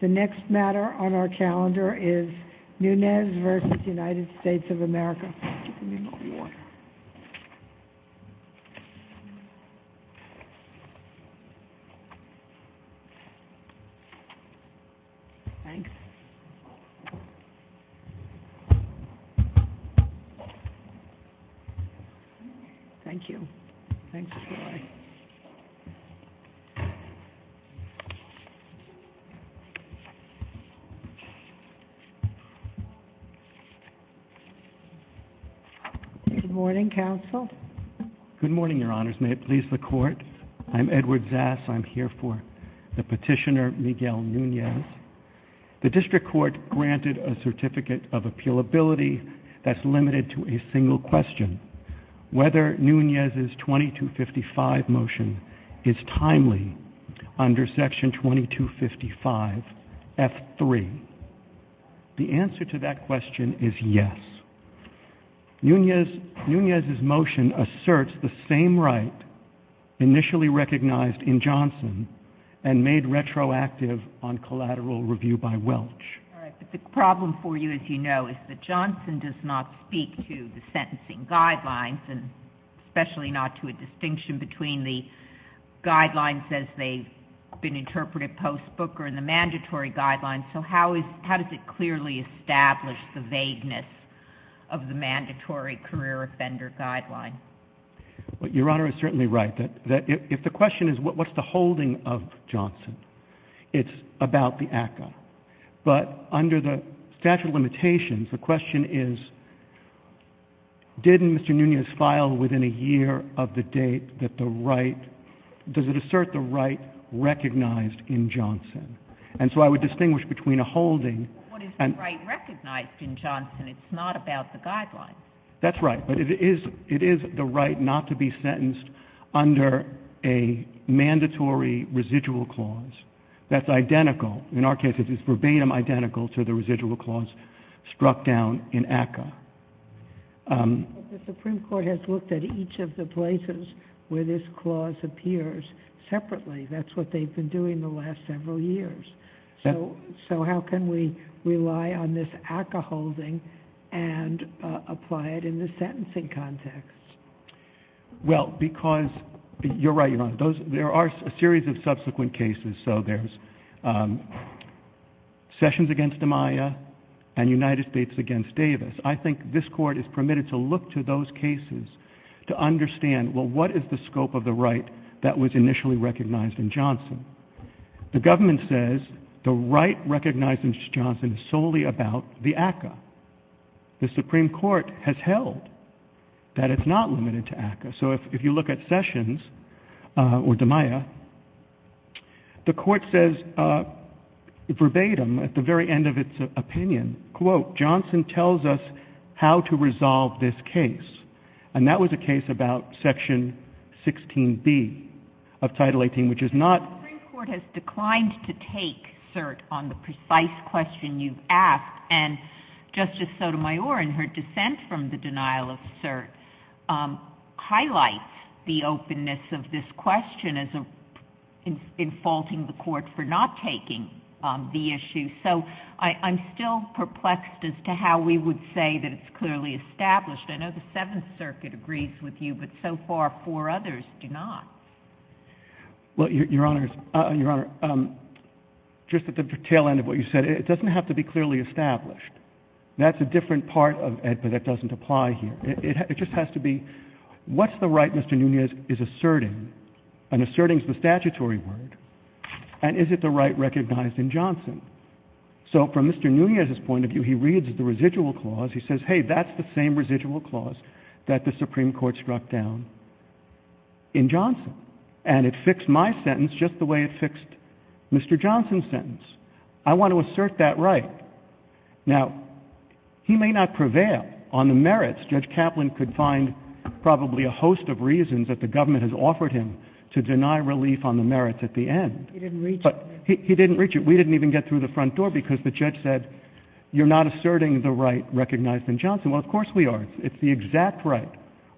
The next matter on our calendar is Nunez v. United States of America. Good morning, Your Honors. May it please the Court? I'm Edward Zass. I'm here for the Petitioner, Miguel Nunez. The District Court granted a Certificate of Appealability that's limited to a single question, whether Nunez's 2255 motion is timely under Section 2255, F3. The answer to that question is yes. Nunez's motion asserts the same right initially recognized in Johnson and made retroactive on collateral review by Welch. All right, but the problem for you, as you know, is that Johnson does not speak to the sentencing guidelines and especially not to a distinction between the guidelines as they've been interpreted post-Booker and the mandatory guidelines, so how does it clearly establish the vagueness of the mandatory career offender guideline? Your Honor is certainly right. If the question is what's the holding of Johnson, it's about the ACCA, but under the statute of limitations, the question is didn't Mr. Nunez file within a year of the date that the right — does it assert the right recognized in Johnson? And so I would distinguish between a holding and — But what is the right recognized in Johnson? It's not about the guidelines. That's right, but it is — it is the right not to be sentenced under a mandatory residual clause that's identical — in our case, it's verbatim identical to the residual clause struck down in ACCA. But the Supreme Court has looked at each of the places where this clause appears separately. That's what they've been doing the last several years. So how can we rely on this ACCA holding and apply it in the sentencing context? Well, because — you're right, Your Honor, there are a series of subsequent cases. So there's Sessions against Amaya and United States against Davis. I think this Court is permitted to look to those cases to understand, well, what is the scope of the right that was initially recognized in Johnson? The government says the right recognized in Johnson is solely about the ACCA. The Supreme Court has held that it's not limited to ACCA. So if you look at Sessions or Amaya, the Court says verbatim at the very end of its opinion, quote, Johnson tells us how to resolve this case. And that was a case about Section 16B of Title 18, which is not — And Justice Sotomayor, in her dissent from the denial of cert, highlights the openness of this question as in faulting the Court for not taking the issue. So I'm still perplexed as to how we would say that it's clearly established. I know the Seventh Circuit agrees with you, but so far four others do not. Well, Your Honor, just at the tail end of what you said, it doesn't have to be clearly established. That's a different part of it that doesn't apply here. It just has to be what's the right Mr. Nunez is asserting? And asserting is the statutory word. And is it the right recognized in Johnson? So from Mr. Nunez's point of view, he reads the residual clause. He says, hey, that's the same residual clause that the Supreme Court struck down in Johnson. And it fixed my sentence just the way it fixed Mr. Johnson's sentence. I want to assert that right. Now, he may not prevail on the merits. Judge Kaplan could find probably a host of reasons that the government has offered him to deny relief on the merits at the end. He didn't reach it. He didn't reach it. We didn't even get through the front door because the judge said you're not asserting the right recognized in Johnson. Well, of course we are. It's the exact right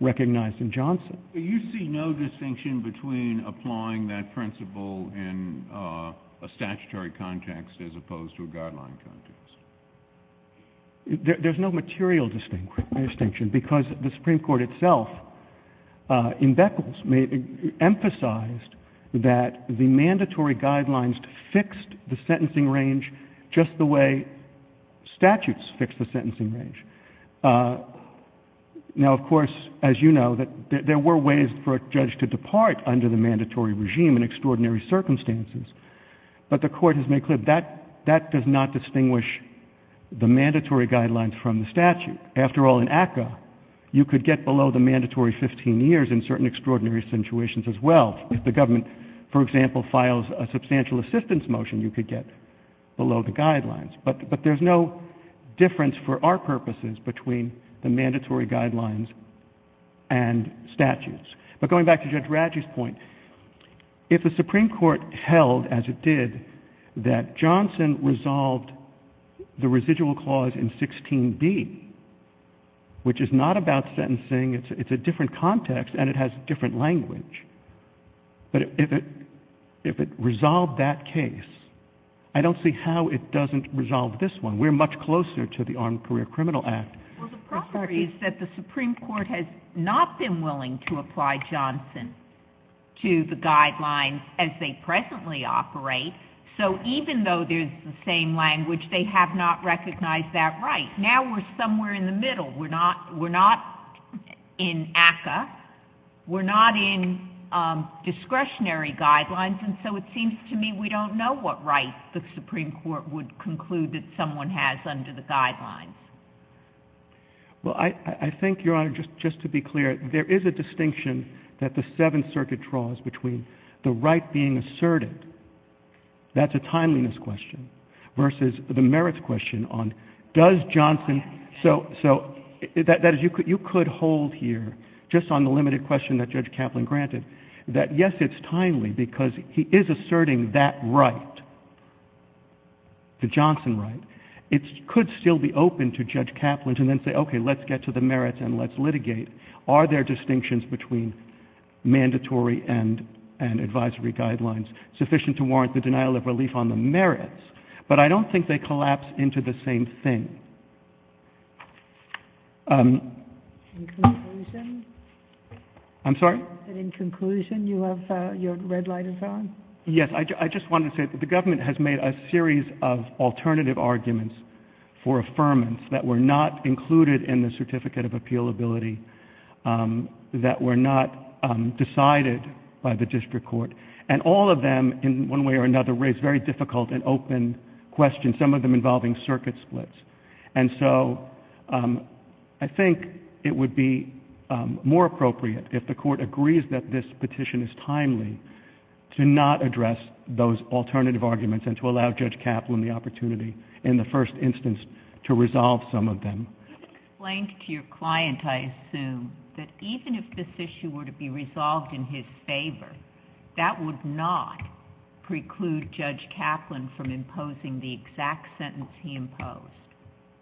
recognized in Johnson. Do you see no distinction between applying that principle in a statutory context as opposed to a guideline context? There's no material distinction because the Supreme Court itself in Beckles emphasized that the mandatory guidelines fixed the sentencing range just the way statutes fix the sentencing range. Now, of course, as you know, there were ways for a judge to depart under the mandatory regime in extraordinary circumstances. But the court has made clear that that does not distinguish the mandatory guidelines from the statute. After all, in ACCA, you could get below the mandatory 15 years in certain extraordinary situations as well. If the government, for example, files a substantial assistance motion, you could get below the guidelines. But there's no difference for our purposes between the mandatory guidelines and statutes. But going back to Judge Radji's point, if the Supreme Court held, as it did, that Johnson resolved the residual clause in 16B, which is not about sentencing. It's a different context, and it has a different language. But if it resolved that case, I don't see how it doesn't resolve this one. We're much closer to the Armed Career Criminal Act. Well, the problem is that the Supreme Court has not been willing to apply Johnson to the guidelines as they presently operate. So even though there's the same language, they have not recognized that right. Now we're somewhere in the middle. We're not in ACCA. We're not in discretionary guidelines. And so it seems to me we don't know what right the Supreme Court would conclude that someone has under the guidelines. Well, I think, Your Honor, just to be clear, there is a distinction that the Seventh Circuit draws between the right being asserted. That's a timeliness question versus the merits question on does Johnson— You could hold here, just on the limited question that Judge Kaplan granted, that, yes, it's timely because he is asserting that right, the Johnson right. It could still be open to Judge Kaplan to then say, okay, let's get to the merits and let's litigate. Are there distinctions between mandatory and advisory guidelines sufficient to warrant the denial of relief on the merits? But I don't think they collapse into the same thing. In conclusion? I'm sorry? In conclusion, you have your red light on? Yes. I just wanted to say that the government has made a series of alternative arguments for affirmance that were not included in the Certificate of Appealability, that were not decided by the district court. And all of them, in one way or another, raise very difficult and open questions, some of them involving circuit splits. And so I think it would be more appropriate, if the Court agrees that this petition is timely, to not address those alternative arguments and to allow Judge Kaplan the opportunity, in the first instance, to resolve some of them. You explained to your client, I assume, that even if this issue were to be resolved in his favor, that would not preclude Judge Kaplan from imposing the exact sentence he imposed.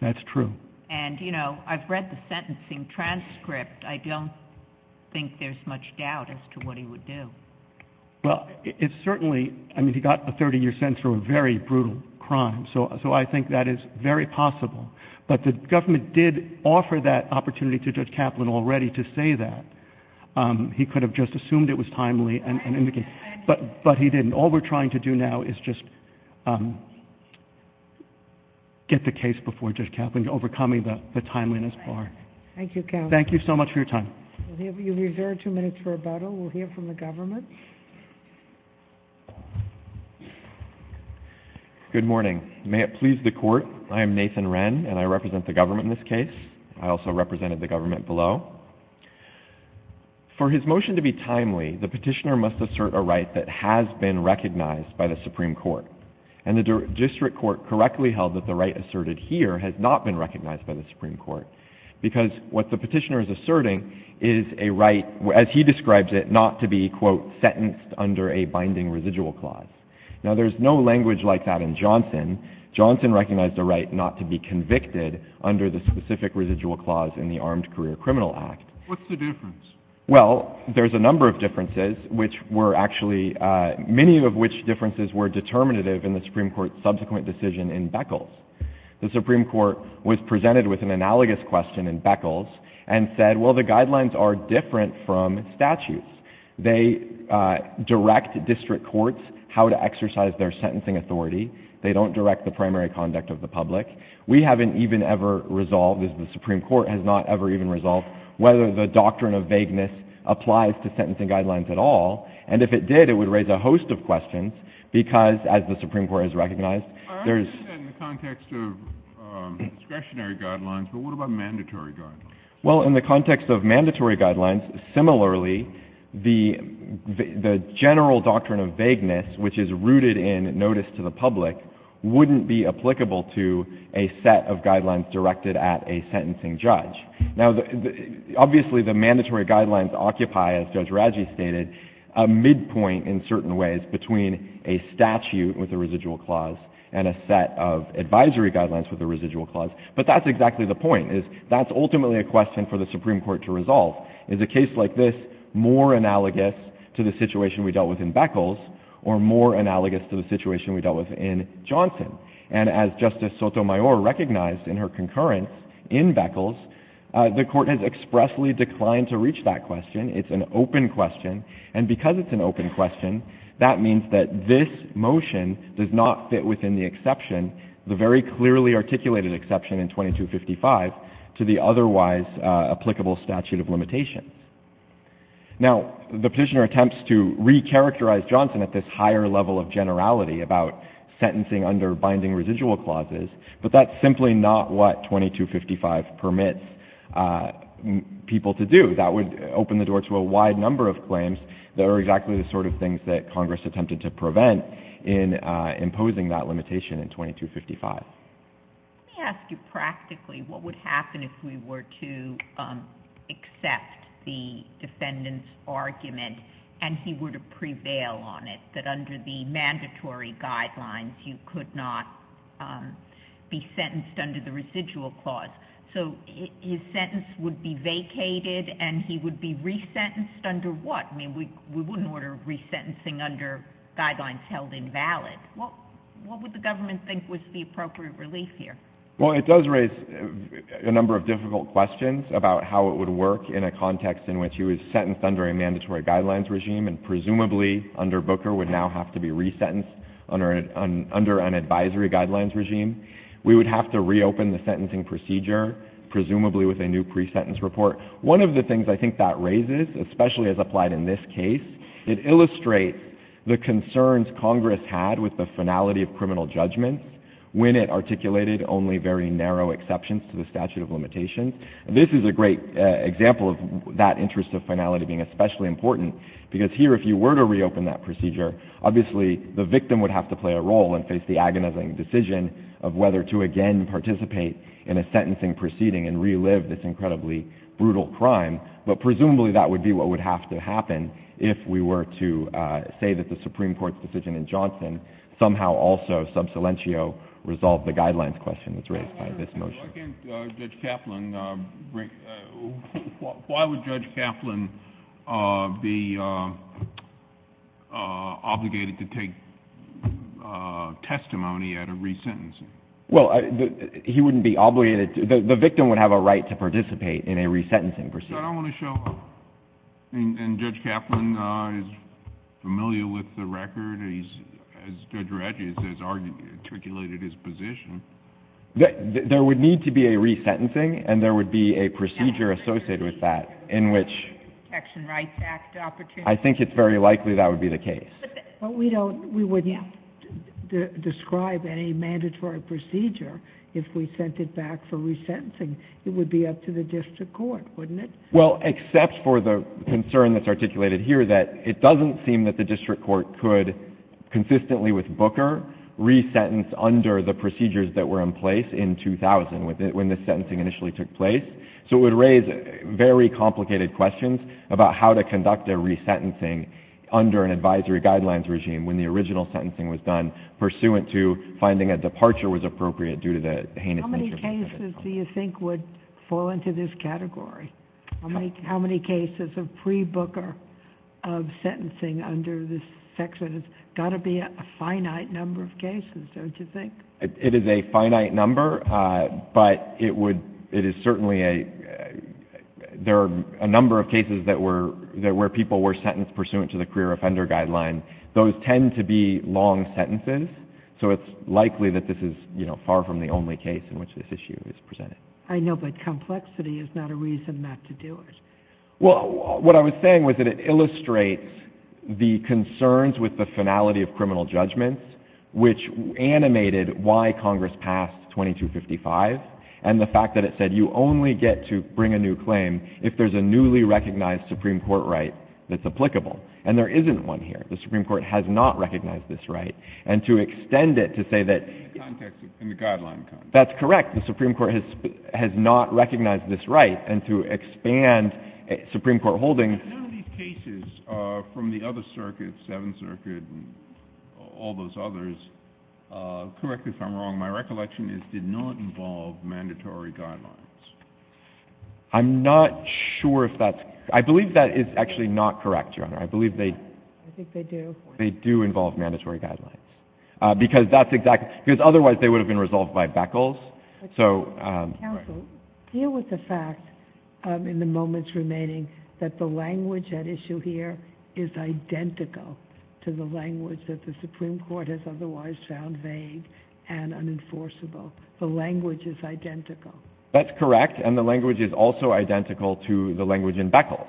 That's true. And, you know, I've read the sentencing transcript. I don't think there's much doubt as to what he would do. Well, it certainly, I mean, he got a 30-year sentence for a very brutal crime. So I think that is very possible. But the government did offer that opportunity to Judge Kaplan already to say that. He could have just assumed it was timely and indicated. But he didn't. All we're trying to do now is just get the case before Judge Kaplan, overcoming the timeliness bar. Thank you, counsel. Thank you so much for your time. We'll have you reserve two minutes for rebuttal. Good morning. May it please the Court. I am Nathan Wren, and I represent the government in this case. I also represented the government below. For his motion to be timely, the petitioner must assert a right that has been recognized by the Supreme Court. And the district court correctly held that the right asserted here has not been recognized by the Supreme Court, because what the petitioner is asserting is a right, as he describes it, not to be, quote, sentenced under a binding residual clause. Now, there's no language like that in Johnson. Johnson recognized a right not to be convicted under the specific residual clause in the Armed Career Criminal Act. What's the difference? Well, there's a number of differences, which were actually, many of which differences were determinative in the Supreme Court's subsequent decision in Beckles. The Supreme Court was presented with an analogous question in Beckles and said, well, the guidelines are different from statutes. They direct district courts how to exercise their sentencing authority. They don't direct the primary conduct of the public. We haven't even ever resolved, as the Supreme Court has not ever even resolved, whether the doctrine of vagueness applies to sentencing guidelines at all. And if it did, it would raise a host of questions, because, as the Supreme Court has recognized, there's — I understand in the context of discretionary guidelines, but what about mandatory guidelines? Well, in the context of mandatory guidelines, similarly, the general doctrine of vagueness, which is rooted in notice to the public, wouldn't be applicable to a set of guidelines directed at a sentencing judge. Now, obviously, the mandatory guidelines occupy, as Judge Raggi stated, a midpoint in certain ways between a statute with a residual clause and a set of advisory guidelines with a residual clause. But that's exactly the point, is that's ultimately a question for the Supreme Court to resolve. Is a case like this more analogous to the situation we dealt with in Beckles or more analogous to the situation we dealt with in Johnson? And as Justice Sotomayor recognized in her concurrence in Beckles, the Court has expressly declined to reach that question. It's an open question. And because it's an open question, that means that this motion does not fit within the exception, the very clearly articulated exception in 2255, to the otherwise applicable statute of limitations. Now, the petitioner attempts to recharacterize Johnson at this higher level of generality about sentencing under binding residual clauses, but that's simply not what 2255 permits people to do. That would open the door to a wide number of claims that are exactly the sort of things that Congress attempted to prevent in imposing that limitation in 2255. Let me ask you practically what would happen if we were to accept the defendant's argument and he were to prevail on it, that under the mandatory guidelines you could not be sentenced under the residual clause. So his sentence would be vacated and he would be resentenced under what? I mean, we wouldn't order resentencing under guidelines held invalid. What would the government think was the appropriate relief here? Well, it does raise a number of difficult questions about how it would work in a context in which he was sentenced under a mandatory guidelines regime and presumably under Booker would now have to be resentenced under an advisory guidelines regime. We would have to reopen the sentencing procedure, presumably with a new pre-sentence report. One of the things I think that raises, especially as applied in this case, it illustrates the concerns Congress had with the finality of criminal judgment when it articulated only very narrow exceptions to the statute of limitations. This is a great example of that interest of finality being especially important because here if you were to reopen that procedure, obviously the victim would have to play a role and face the agonizing decision of whether to again participate in a sentencing proceeding and relive this incredibly brutal crime. But presumably that would be what would have to happen if we were to say that the Supreme Court's decision in Johnson somehow also sub silentio resolved the guidelines question that's raised by this motion. Why would Judge Kaplan be obligated to take testimony at a resentencing? Well, he wouldn't be obligated to. The victim would have a right to participate in a resentencing proceeding. I don't want to show up. And Judge Kaplan is familiar with the record. As Judge Regis has articulated his position. There would need to be a resentencing and there would be a procedure associated with that in which I think it's very likely that would be the case. We wouldn't describe any mandatory procedure if we sent it back for resentencing. It would be up to the district court, wouldn't it? Well, except for the concern that's articulated here that it doesn't seem that the district court could consistently with Booker resentence under the procedures that were in place in 2000 when the sentencing initially took place. So it would raise very complicated questions about how to conduct a resentencing under an advisory guidelines regime when the original sentencing was done pursuant to finding a departure was appropriate due to the heinous nature of the case. How many cases do you think would fall into this category? How many cases of pre-Booker of sentencing under this section? It's got to be a finite number of cases, don't you think? It is a finite number, but it is certainly a... There are a number of cases where people were sentenced pursuant to the career offender guideline. Those tend to be long sentences, so it's likely that this is far from the only case in which this issue is presented. I know, but complexity is not a reason not to do it. Well, what I was saying was that it illustrates the concerns with the finality of criminal judgments, which animated why Congress passed 2255 and the fact that it said you only get to bring a new claim if there's a newly recognized Supreme Court right that's applicable. And there isn't one here. The Supreme Court has not recognized this right. And to extend it to say that... In the context of... in the guideline context. That's correct. The Supreme Court has not recognized this right. And to expand Supreme Court holdings... None of these cases from the other circuits, Seventh Circuit and all those others, correct if I'm wrong, my recollection is did not involve mandatory guidelines. I'm not sure if that's... I believe that is actually not correct, Your Honor. I believe they... I think they do. They do involve mandatory guidelines. Because that's exactly... because otherwise they would have been resolved by Beckles. So... Counsel, deal with the fact in the moments remaining that the language at issue here is identical to the language that the Supreme Court has otherwise found vague and unenforceable. The language is identical. That's correct. And the language is also identical to the language in Beckles,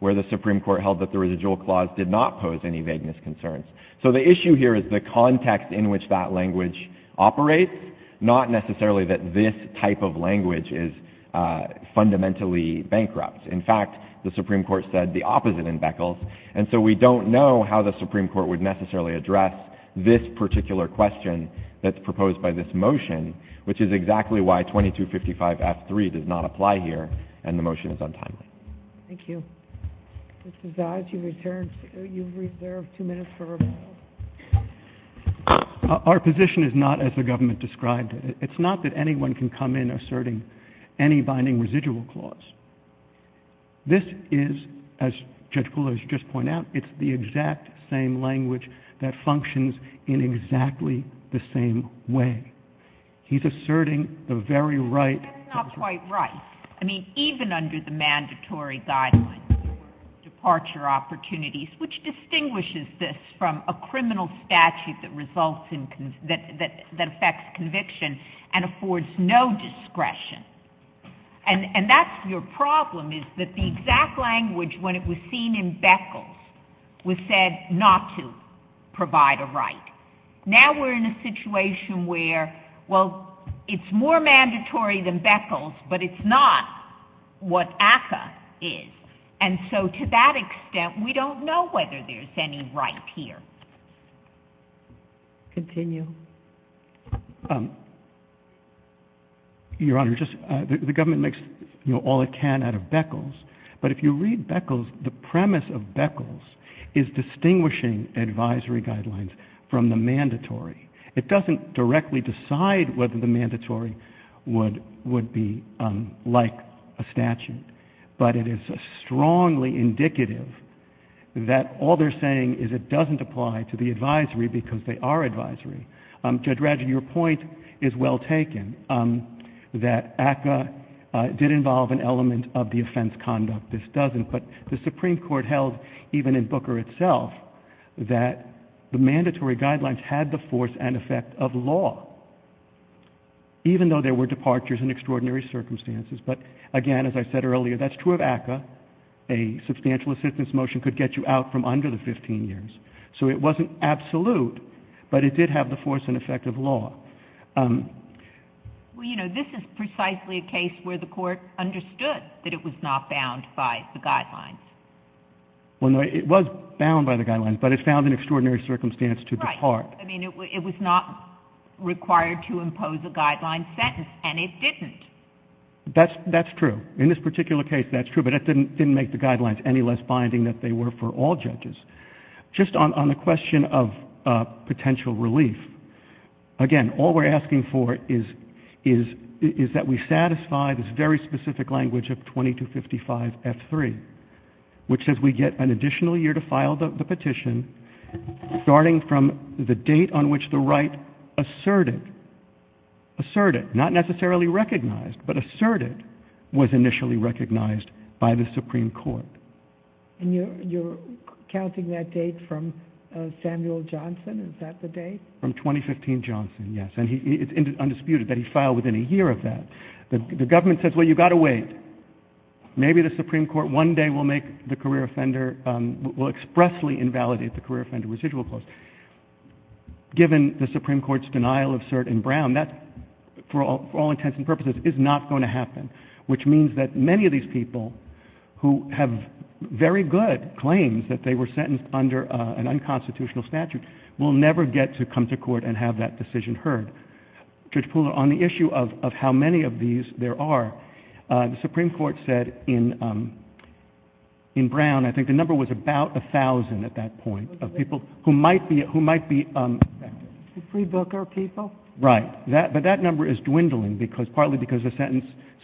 where the Supreme Court held that the residual clause did not pose any vagueness concerns. So the issue here is the context in which that language operates, not necessarily that this type of language is fundamentally bankrupt. In fact, the Supreme Court said the opposite in Beckles. And so we don't know how the Supreme Court would necessarily address this particular question that's proposed by this motion, which is exactly why 2255F3 does not apply here, and the motion is untimely. Thank you. Mr. Zais, you've returned. You've reserved two minutes for rebuttal. Our position is not as the government described it. It's not that anyone can come in asserting any binding residual clause. This is, as Judge Kula has just pointed out, it's the exact same language that functions in exactly the same way. He's asserting the very right... That's not quite right. I mean, even under the mandatory guidelines for departure opportunities, which distinguishes this from a criminal statute that results in... that affects conviction and affords no discretion. And that's your problem is that the exact language, when it was seen in Beckles, was said not to provide a right. Now we're in a situation where, well, it's more mandatory than Beckles, but it's not what ACCA is. And so to that extent, we don't know whether there's any right here. Continue. Your Honor, the government makes all it can out of Beckles, but if you read Beckles, the premise of Beckles is distinguishing advisory guidelines from the mandatory. It doesn't directly decide whether the mandatory would be like a statute, but it is strongly indicative that all they're saying is it doesn't apply to the advisory because they are advisory. Judge Ratchett, your point is well taken, that ACCA did involve an element of the offense conduct. This doesn't. But the Supreme Court held, even in Booker itself, that the mandatory guidelines had the force and effect of law, even though there were departures and extraordinary circumstances. But, again, as I said earlier, that's true of ACCA. A substantial assistance motion could get you out from under the 15 years. So it wasn't absolute, but it did have the force and effect of law. Well, you know, this is precisely a case where the Court understood that it was not bound by the guidelines. Well, no, it was bound by the guidelines, but it found an extraordinary circumstance to depart. Right. I mean, it was not required to impose a guideline sentence, and it didn't. That's true. In this particular case, that's true, but it didn't make the guidelines any less binding than they were for all judges. Just on the question of potential relief, again, all we're asking for is that we satisfy this very specific language of 2255F3, which says we get an additional year to file the petition, starting from the date on which the right asserted, asserted, not necessarily recognized, but asserted, was initially recognized by the Supreme Court. And you're counting that date from Samuel Johnson? Is that the date? From 2015 Johnson, yes. And it's undisputed that he filed within a year of that. The government says, well, you've got to wait. Maybe the Supreme Court one day will make the career offender, will expressly invalidate the career offender residual clause. Given the Supreme Court's denial of cert in Brown, that, for all intents and purposes, is not going to happen, which means that many of these people who have very good claims that they were sentenced under an unconstitutional statute will never get to come to court and have that decision heard. Judge Pooler, on the issue of how many of these there are, the Supreme Court said in Brown, I think the number was about 1,000 at that point, of people who might be free booker people. Right, but that number is dwindling, partly because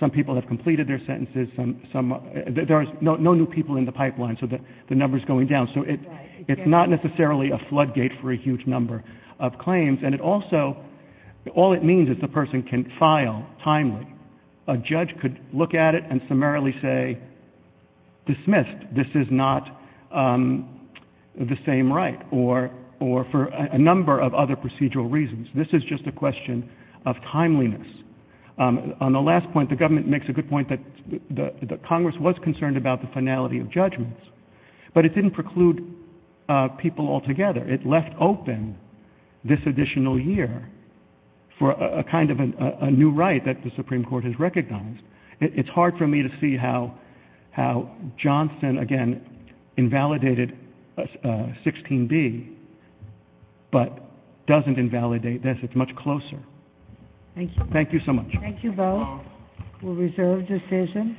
some people have completed their sentences. There are no new people in the pipeline, so the number is going down. So it's not necessarily a floodgate for a huge number of claims. And it also, all it means is the person can file timely. A judge could look at it and summarily say, dismissed, this is not the same right, or for a number of other procedural reasons. This is just a question of timeliness. On the last point, the government makes a good point that Congress was concerned about the finality of judgments, but it didn't preclude people altogether. It left open this additional year for a kind of a new right that the Supreme Court has recognized. It's hard for me to see how Johnson, again, invalidated 16b, but doesn't invalidate this. It's much closer. Thank you so much. Thank you both. We'll reserve decision.